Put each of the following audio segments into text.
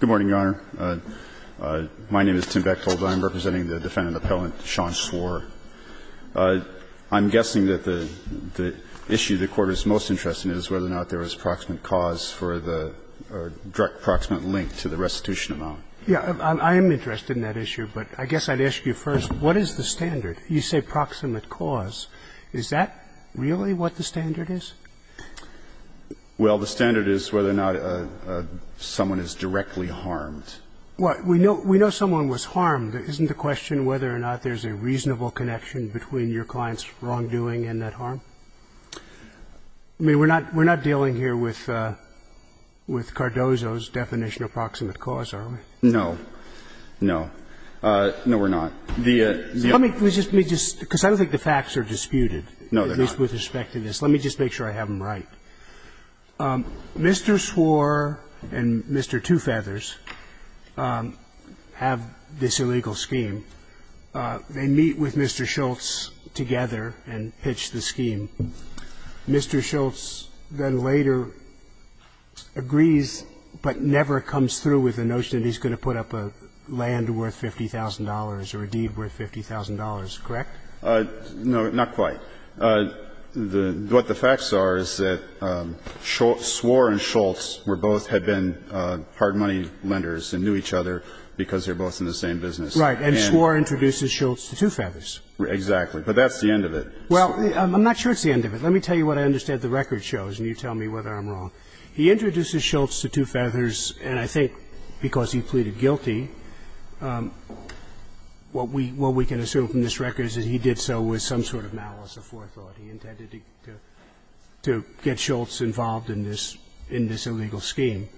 I'm guessing that the issue the Court is most interested in is whether or not there was proximate cause for the direct proximate link to the restitution amount. Yeah. I am interested in that issue, but I guess I'd ask you first, what is the standard? You say proximate cause. Is that really what the standard is? Well, we know someone was harmed. Isn't the question whether or not there's a reasonable connection between your client's wrongdoing and that harm? I mean, we're not dealing here with Cardozo's definition of proximate cause, are we? No. No. No, we're not. Let me just – because I don't think the facts are disputed, at least with respect to this. No, they're not. Let me just make sure I have them right. Mr. Swor and Mr. Two Feathers have this illegal scheme. They meet with Mr. Schultz together and pitch the scheme. Mr. Schultz then later agrees but never comes through with the notion that he's going to put up a land worth $50,000 or a deed worth $50,000, correct? No, not quite. What the facts are is that Swor and Schultz were both had been hard money lenders and knew each other because they were both in the same business. Right. And Swor introduces Schultz to Two Feathers. Exactly. But that's the end of it. Well, I'm not sure it's the end of it. Let me tell you what I understand the record shows, and you tell me whether I'm wrong. He introduces Schultz to Two Feathers, and I think because he pleaded guilty, what we can assume from this record is that he did so with some sort of malice of forethought. He intended to get Schultz involved in this illegal scheme.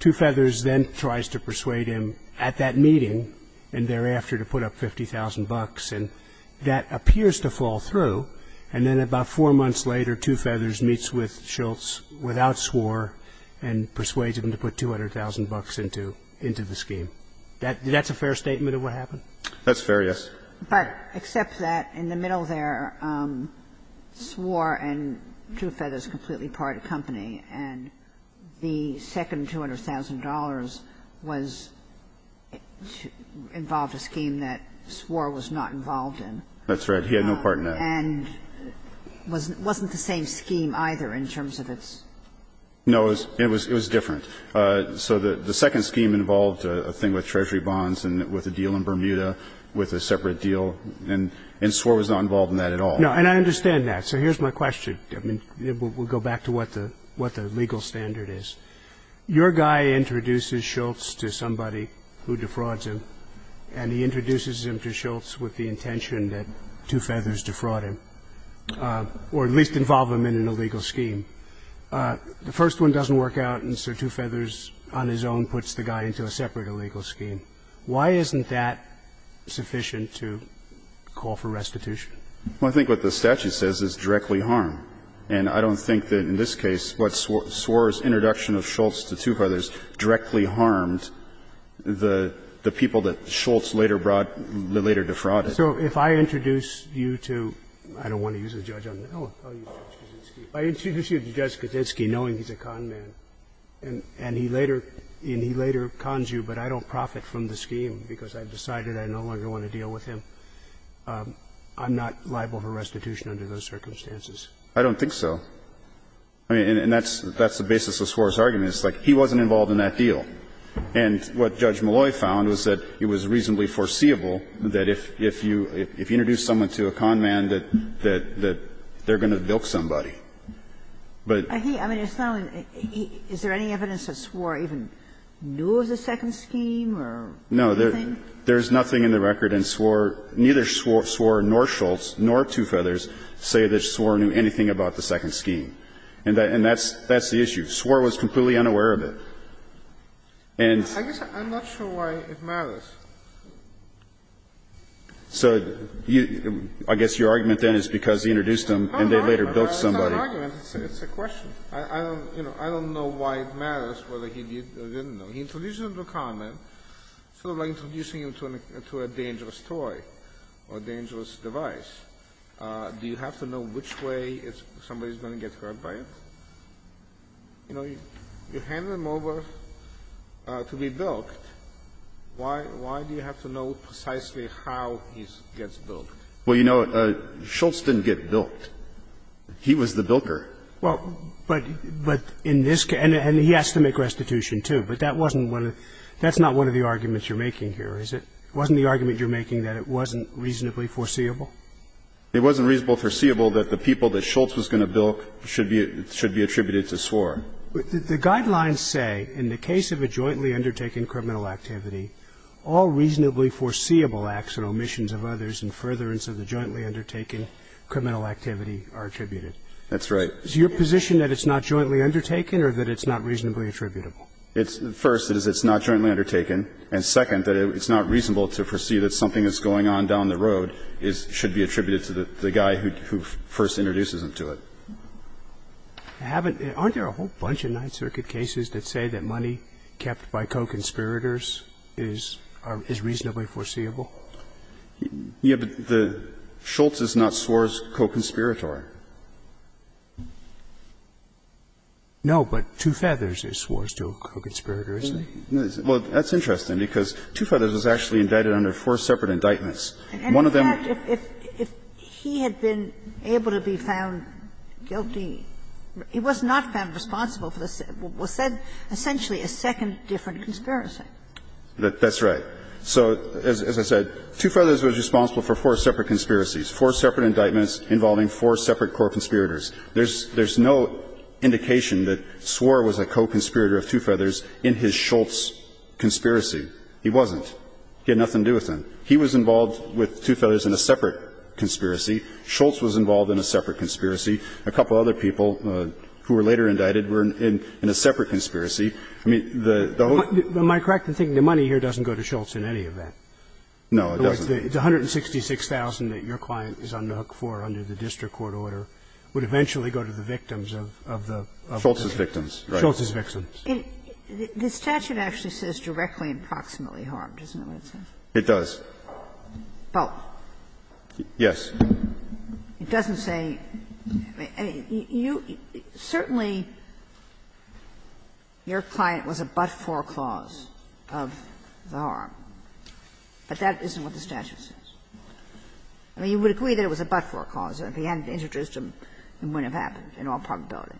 Two Feathers then tries to persuade him at that meeting and thereafter to put up $50,000, and that appears to fall through. And then about four months later, Two Feathers meets with Schultz without Swor and persuades him to put $200,000 into the scheme. That's a fair statement of what happened? That's fair, yes. But except that in the middle there, Swor and Two Feathers are completely part of the company, and the second $200,000 was to involve a scheme that Swor was not involved in. That's right. He had no part in that. And wasn't the same scheme either in terms of its ---- No. It was different. So the second scheme involved a thing with Treasury bonds and with a deal in Bermuda with a separate deal, and Swor was not involved in that at all. And I understand that. So here's my question. I mean, we'll go back to what the legal standard is. Your guy introduces Schultz to somebody who defrauds him, and he introduces him to Schultz with the intention that Two Feathers defraud him or at least involve him in an illegal scheme. The first one doesn't work out, and so Two Feathers on his own puts the guy into a separate illegal scheme. Why isn't that sufficient to call for restitution? Well, I think what the statute says is directly harm. And I don't think that in this case what Swor's introduction of Schultz to Two Feathers directly harmed the people that Schultz later brought, later defrauded. So if I introduce you to ---- I don't want to use a judge on that. I'll use Judge Kaczynski. I introduce you to Judge Kaczynski knowing he's a con man, and he later cons you, but I don't profit from the scheme because I've decided I no longer want to deal with him. I'm not liable for restitution under those circumstances. I don't think so. I mean, and that's the basis of Swor's argument. It's like he wasn't involved in that deal. And what Judge Molloy found was that it was reasonably foreseeable that if you introduce someone to a con man, that they're going to bilk somebody. But he ---- I mean, it's not an ---- is there any evidence that Swor even knew of the second scheme or anything? No. There's nothing in the record in Swor. Neither Swor nor Schultz nor Two Feathers say that Swor knew anything about the second scheme. And that's the issue. Swor was completely unaware of it. And ---- I guess I'm not sure why it matters. So you ---- I guess your argument then is because he introduced them and they later bilked somebody. No, no, no. That's not an argument. It's a question. I don't, you know, I don't know why it matters whether he did or didn't know. He introduced them to a con man, sort of like introducing them to a dangerous toy or a dangerous device. Do you have to know which way somebody is going to get hurt by it? You know, you handed them over to be bilked. Why do you have to know precisely how he gets bilked? Well, you know, Schultz didn't get bilked. He was the bilker. Well, but in this case ---- and he has to make restitution, too. But that wasn't one of the ---- that's not one of the arguments you're making here, is it? Wasn't the argument you're making that it wasn't reasonably foreseeable? It wasn't reasonably foreseeable that the people that Schultz was going to bilk should be attributed to Swor. The guidelines say in the case of a jointly undertaken criminal activity, all reasonably foreseeable acts or omissions of others in furtherance of the jointly undertaken criminal activity are attributed. That's right. Is your position that it's not jointly undertaken or that it's not reasonably attributable? First, it's not jointly undertaken. And second, that it's not reasonable to foresee that something that's going on down the road should be attributed to the guy who first introduces them to it. I haven't ---- aren't there a whole bunch of Ninth Circuit cases that say that money kept by co-conspirators is reasonably foreseeable? Yeah, but the ---- Schultz is not Swor's co-conspirator. No, but Two Feathers is Swor's co-conspirator, isn't he? Well, that's interesting, because Two Feathers was actually indicted under four separate indictments. One of them ---- But, in fact, if he had been able to be found guilty, he was not found responsible for what was said, essentially, a second different conspiracy. That's right. So, as I said, Two Feathers was responsible for four separate conspiracies, four separate indictments involving four separate co-conspirators. There's no indication that Swor was a co-conspirator of Two Feathers in his Schultz conspiracy. He wasn't. He had nothing to do with them. He was involved with Two Feathers in a separate conspiracy. Schultz was involved in a separate conspiracy. A couple of other people who were later indicted were in a separate conspiracy. I mean, the whole ---- Am I correct in thinking the money here doesn't go to Schultz in any of that? No, it doesn't. The 166,000 that your client is on the hook for under the district court order would eventually go to the victims of the ---- Schultz's victims, right. Schultz's victims. The statute actually says directly and proximately harmed, isn't that what it says? It does. Both. Yes. It doesn't say ---- I mean, you ---- certainly your client was a but-for clause of the harm, but that isn't what the statute says. I mean, you would agree that it was a but-for clause. If he hadn't introduced them, it wouldn't have happened in all probability.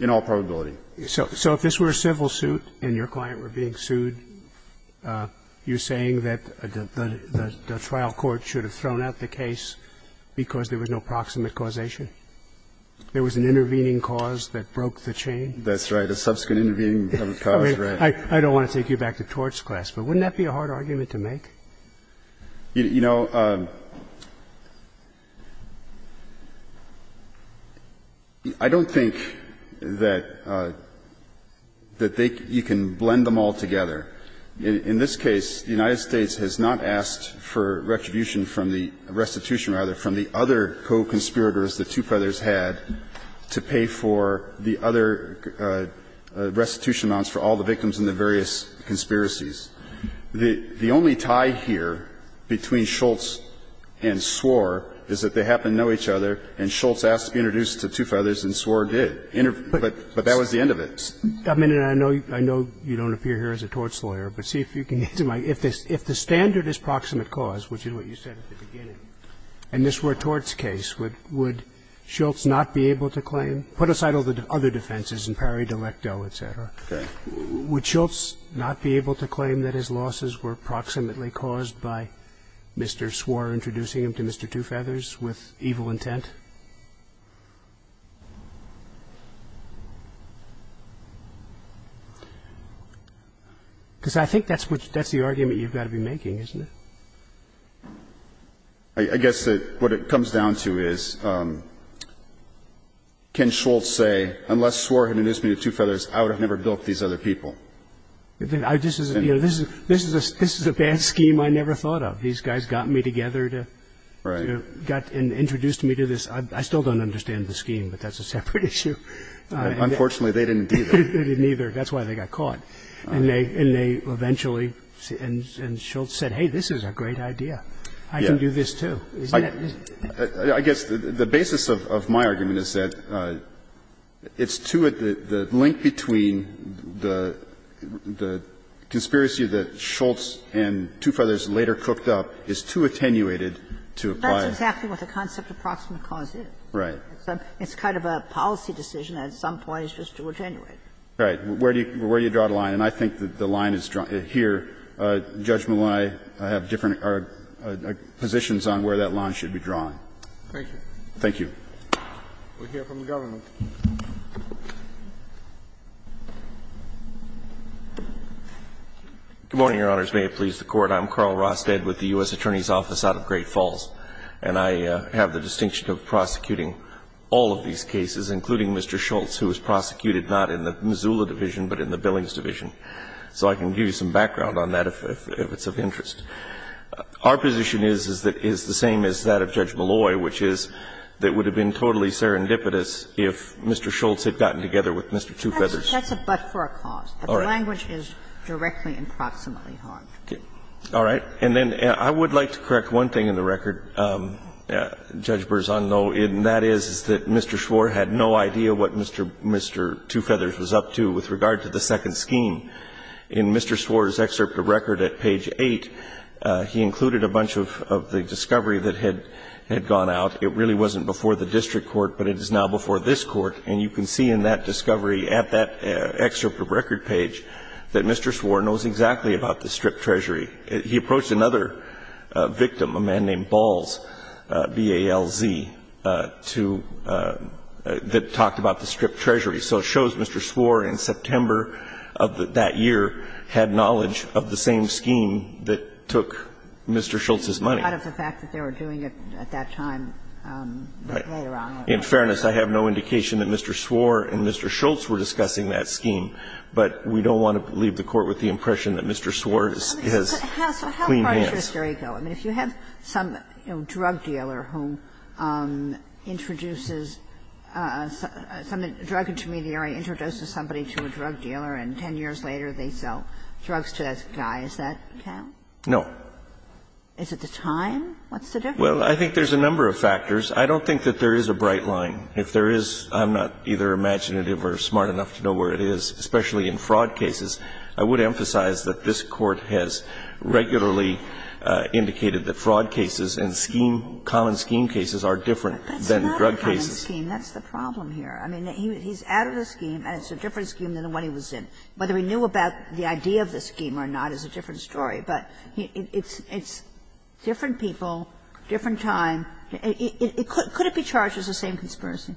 In all probability. So if this were a civil suit and your client were being sued, you're saying that the trial court should have thrown out the case because there was no proximate causation? There was an intervening cause that broke the chain? That's right. A subsequent intervening cause, right. I don't want to take you back to torts class, but wouldn't that be a hard argument that they ---- you can blend them all together? In this case, the United States has not asked for retribution from the ---- restitution, rather, from the other co-conspirators the Two Feathers had to pay for the other restitution amounts for all the victims in the various conspiracies. The only tie here between Schultz and Swor is that they happen to know each other and Schultz asked to be introduced to Two Feathers and Swor did. But that was the end of it. I know you don't appear here as a torts lawyer, but see if you can get to my ---- if the standard is proximate cause, which is what you said at the beginning, and this were a torts case, would Schultz not be able to claim? Put aside all the other defenses and pari de lecto, et cetera. Okay. Would Schultz not be able to claim that his losses were proximately caused by Mr. Swor introducing him to Mr. Two Feathers with evil intent? Because I think that's the argument you've got to be making, isn't it? I guess what it comes down to is, can Schultz say unless Swor had introduced me to Two Feathers, I would have never dealt with these other people? This is a bad scheme I never thought of. These guys got me together to -------- got and introduced me to this other group of people. I still don't understand the scheme, but that's a separate issue. Unfortunately, they didn't either. They didn't either. That's why they got caught. And they eventually ---- and Schultz said, hey, this is a great idea. I can do this, too. I guess the basis of my argument is that it's too ---- the link between the conspiracy that Schultz and Two Feathers later cooked up is too attenuated to apply. That's exactly what the concept of proximate cause is. Right. It's kind of a policy decision that at some point is just too attenuated. Right. Where do you draw the line? And I think that the line is here. Judge Malone, I have different positions on where that line should be drawn. Thank you. Thank you. We'll hear from the government. Good morning, Your Honors. May it please the Court. I'm Carl Ross, dead with the U.S. Attorney's Office out of Great Falls. And I have the distinction of prosecuting all of these cases, including Mr. Schultz, who was prosecuted not in the Missoula division, but in the Billings division. So I can give you some background on that if it's of interest. Our position is that it's the same as that of Judge Malloy, which is that it would have been totally serendipitous if Mr. Schultz had gotten together with Mr. Two Feathers. That's a but for a cause. All right. But the language is directly and proximately harmed. Okay. All right. And then I would like to correct one thing in the record, Judge Berzon, though, and that is that Mr. Schwartz had no idea what Mr. Two Feathers was up to with regard to the second scheme. In Mr. Schwartz's excerpt of record at page 8, he included a bunch of the discovery that had gone out. It really wasn't before the district court, but it is now before this court. And you can see in that discovery at that excerpt of record page that Mr. Schwartz knows exactly about the stripped treasury. He approached another victim, a man named Balls, B-A-L-Z, to – that talked about the stripped treasury. So it shows Mr. Swartz in September of that year had knowledge of the same scheme that took Mr. Schultz's money. But out of the fact that they were doing it at that time later on. In fairness, I have no indication that Mr. Swartz and Mr. Schultz were discussing that scheme, but we don't want to leave the Court with the impression that Mr. Swartz has clean hands. Kagan. So how far does this theory go? I mean, if you have some, you know, drug dealer who introduces – drug intermediary introduces somebody to a drug dealer and 10 years later they sell drugs to that guy, does that count? No. Is it the time? What's the difference? Well, I think there's a number of factors. I don't think that there is a bright line. If there is, I'm not either imaginative or smart enough to know where it is, especially in fraud cases, I would emphasize that this Court has regularly indicated that fraud cases and scheme, common scheme cases are different than drug cases. But that's not a common scheme. That's the problem here. I mean, he's out of the scheme and it's a different scheme than the one he was in. Whether he knew about the idea of the scheme or not is a different story. But it's different people, different time. Could it be charged as the same conspiracy?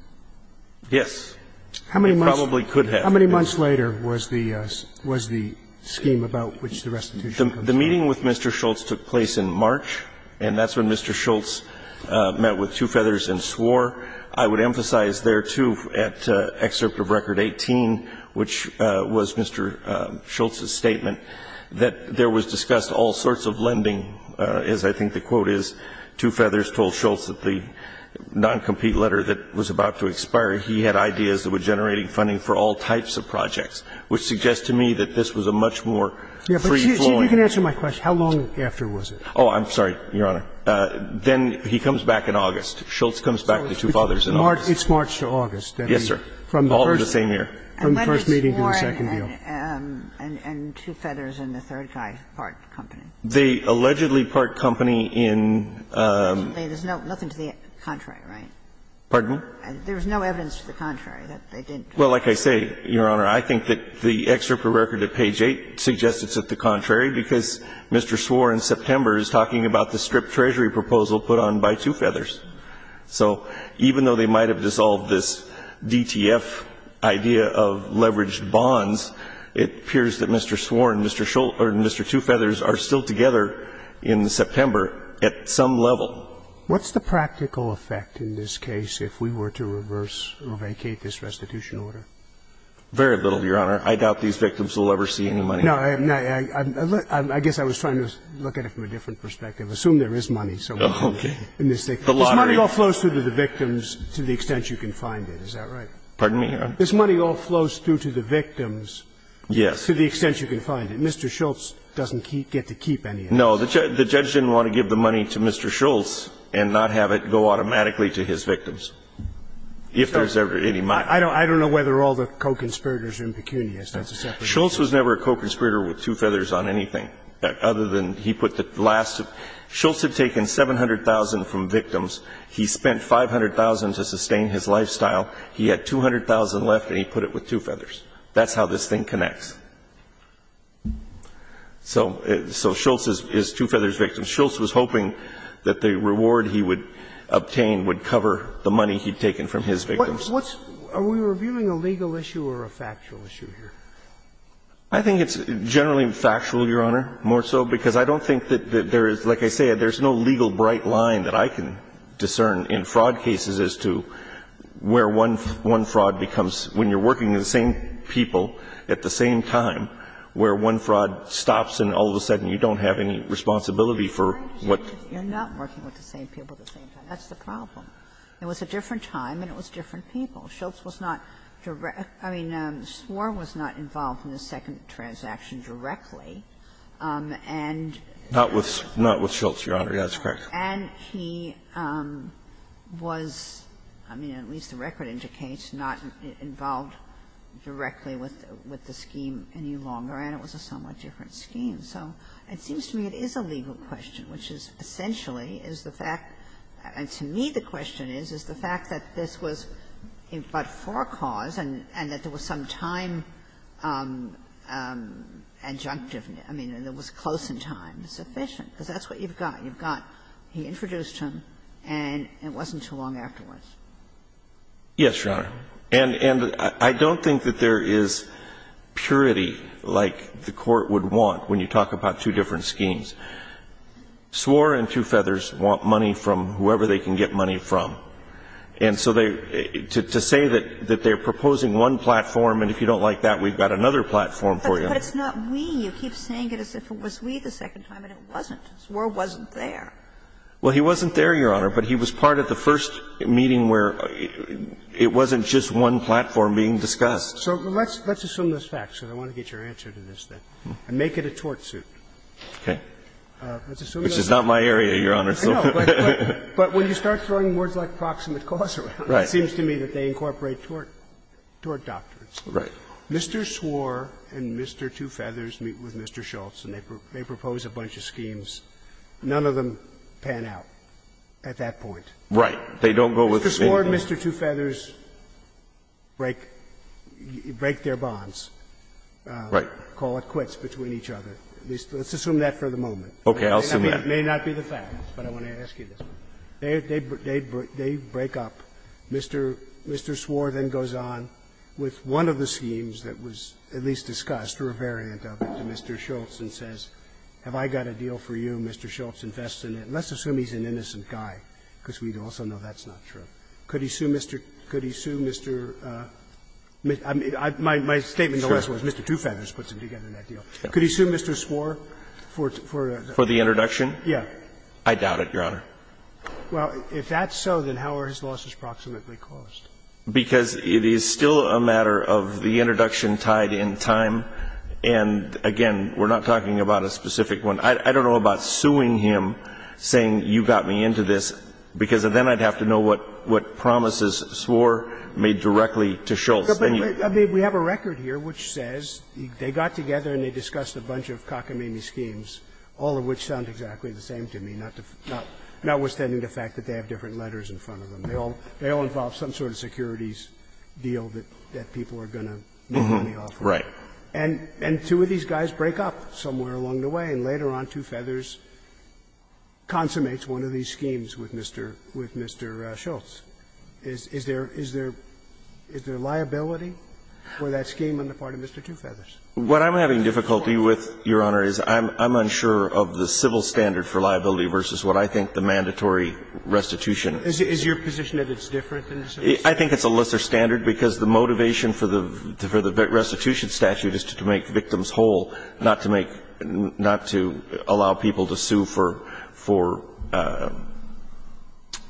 Yes. It probably could have. How many months later was the scheme about which the restitution comes in? The meeting with Mr. Schultz took place in March, and that's when Mr. Schultz met with Two Feathers and swore. I would emphasize there, too, at Excerpt of Record 18, which was Mr. Schultz's statement, that there was discussed all sorts of lending, as I think the quote is. Two Feathers told Schultz that the non-compete letter that was about to expire, he had ideas that were generating funding for all types of projects, which suggests to me that this was a much more free-flowing. But you can answer my question. How long after was it? Oh, I'm sorry, Your Honor. Then he comes back in August. Schultz comes back to Two Fathers in August. So it's March to August. Yes, sir. All in the same year. From the first meeting to the second meeting. And two Feathers and the third guy part company. They allegedly part company in the first meeting. There's nothing to the contrary, right? Pardon me? There was no evidence to the contrary that they didn't. Well, like I say, Your Honor, I think that the Excerpt of Record at page 8 suggests it's at the contrary, because Mr. Swore in September is talking about the stripped Treasury proposal put on by Two Feathers. So even though they might have dissolved this DTF idea of leveraged bonds, it appears that Mr. Swore and Mr. Schultz or Mr. Two Feathers are still together in September at some level. So what's the practical effect in this case if we were to reverse or vacate this restitution order? Very little, Your Honor. I doubt these victims will ever see any money. No. I guess I was trying to look at it from a different perspective. Assume there is money. Okay. This money all flows through to the victims to the extent you can find it. Is that right? Pardon me? This money all flows through to the victims to the extent you can find it. Mr. Schultz doesn't get to keep any of it. No. The judge didn't want to give the money to Mr. Schultz and not have it go automatically to his victims, if there's ever any money. I don't know whether all the co-conspirators are in Pecunias. That's a separate issue. Schultz was never a co-conspirator with Two Feathers on anything, other than he put the last of it. Schultz had taken $700,000 from victims. He spent $500,000 to sustain his lifestyle. He had $200,000 left, and he put it with Two Feathers. That's how this thing connects. So Schultz is Two Feathers' victim. Schultz was hoping that the reward he would obtain would cover the money he'd taken from his victims. Are we reviewing a legal issue or a factual issue here? I think it's generally factual, Your Honor, more so, because I don't think that there is, like I said, there's no legal bright line that I can discern in fraud cases as to where one fraud becomes, when you're working with the same people at the same time, where one fraud stops and all of a sudden you don't have any responsibility for what you're doing. You're not working with the same people at the same time. That's the problem. It was a different time and it was different people. Schultz was not direct – I mean, Swore was not involved in the second transaction directly, and he was, I mean, at least the record indicates, not involved directly with the scheme of fraud. And it was a somewhat different scheme. So it seems to me it is a legal question, which is essentially is the fact, and to me the question is, is the fact that this was but for a cause and that there was some time adjunctive, I mean, that was close in time, sufficient, because that's what you've got. You've got he introduced him and it wasn't too long afterwards. Yes, Your Honor. And I don't think that there is purity like the Court would want when you talk about two different schemes. Swore and Two Feathers want money from whoever they can get money from. And so they – to say that they're proposing one platform and if you don't like that, we've got another platform for you. But it's not we. You keep saying it as if it was we the second time, and it wasn't. Swore wasn't there. Well, he wasn't there, Your Honor, but he was part of the first meeting where it wasn't just one platform being discussed. So let's assume this fact, because I want to get your answer to this thing, and make it a tort suit. Okay. Which is not my area, Your Honor. No, but when you start throwing words like proximate cause around, it seems to me that they incorporate tort doctrines. Right. Mr. Swore and Mr. Two Feathers meet with Mr. Schultz and they propose a bunch of schemes. None of them pan out at that point. Right. They don't go with anything. They ignore Mr. Two Feathers, break their bonds, call it quits between each other. Let's assume that for the moment. Okay. I'll assume that. It may not be the facts, but I want to ask you this one. They break up. Mr. Swore then goes on with one of the schemes that was at least discussed, or a variant of it, to Mr. Schultz and says, have I got a deal for you, Mr. Schultz invests in it. Let's assume he's an innocent guy, because we also know that's not true. Could he sue Mr. — could he sue Mr. — my statement in the last one was Mr. Two Feathers puts him together in that deal. Could he sue Mr. Swore for the introduction? Yeah. I doubt it, Your Honor. Well, if that's so, then how are his losses proximately caused? Because it is still a matter of the introduction tied in time, and again, we're not talking about a specific one. I don't know about suing him, saying you got me into this, because then I'd have to know what promises Swore made directly to Schultz. We have a record here which says they got together and they discussed a bunch of cockamamie schemes, all of which sound exactly the same to me, notwithstanding the fact that they have different letters in front of them. They all involve some sort of securities deal that people are going to make money off of. Right. And two of these guys break up somewhere along the way, and later on Two Feathers consummates one of these schemes with Mr. Schultz. Is there liability for that scheme on the part of Mr. Two Feathers? What I'm having difficulty with, Your Honor, is I'm unsure of the civil standard for liability versus what I think the mandatory restitution is. I think it's a lesser standard, because the motivation for the restitution statute is to make victims whole, not to make, not to allow people to sue for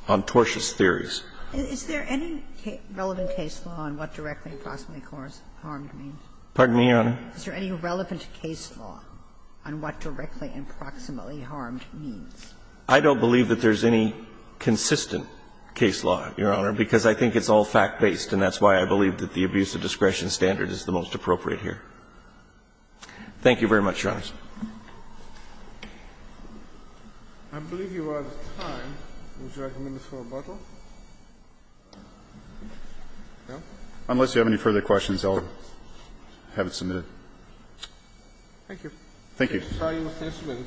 ontortious theories. Is there any relevant case law on what directly and proximately harmed means? Pardon me, Your Honor? Is there any relevant case law on what directly and proximately harmed means? I don't believe that there's any consistent case law, Your Honor, because I think it's all fact-based, and that's why I believe that the abuse of discretion standard is the most appropriate here. Thank you very much, Your Honors. I believe you are out of time. Would you like a minute for rebuttal? No? Unless you have any further questions, I'll have it submitted. Thank you. Thank you. I'm sorry, you must answer me.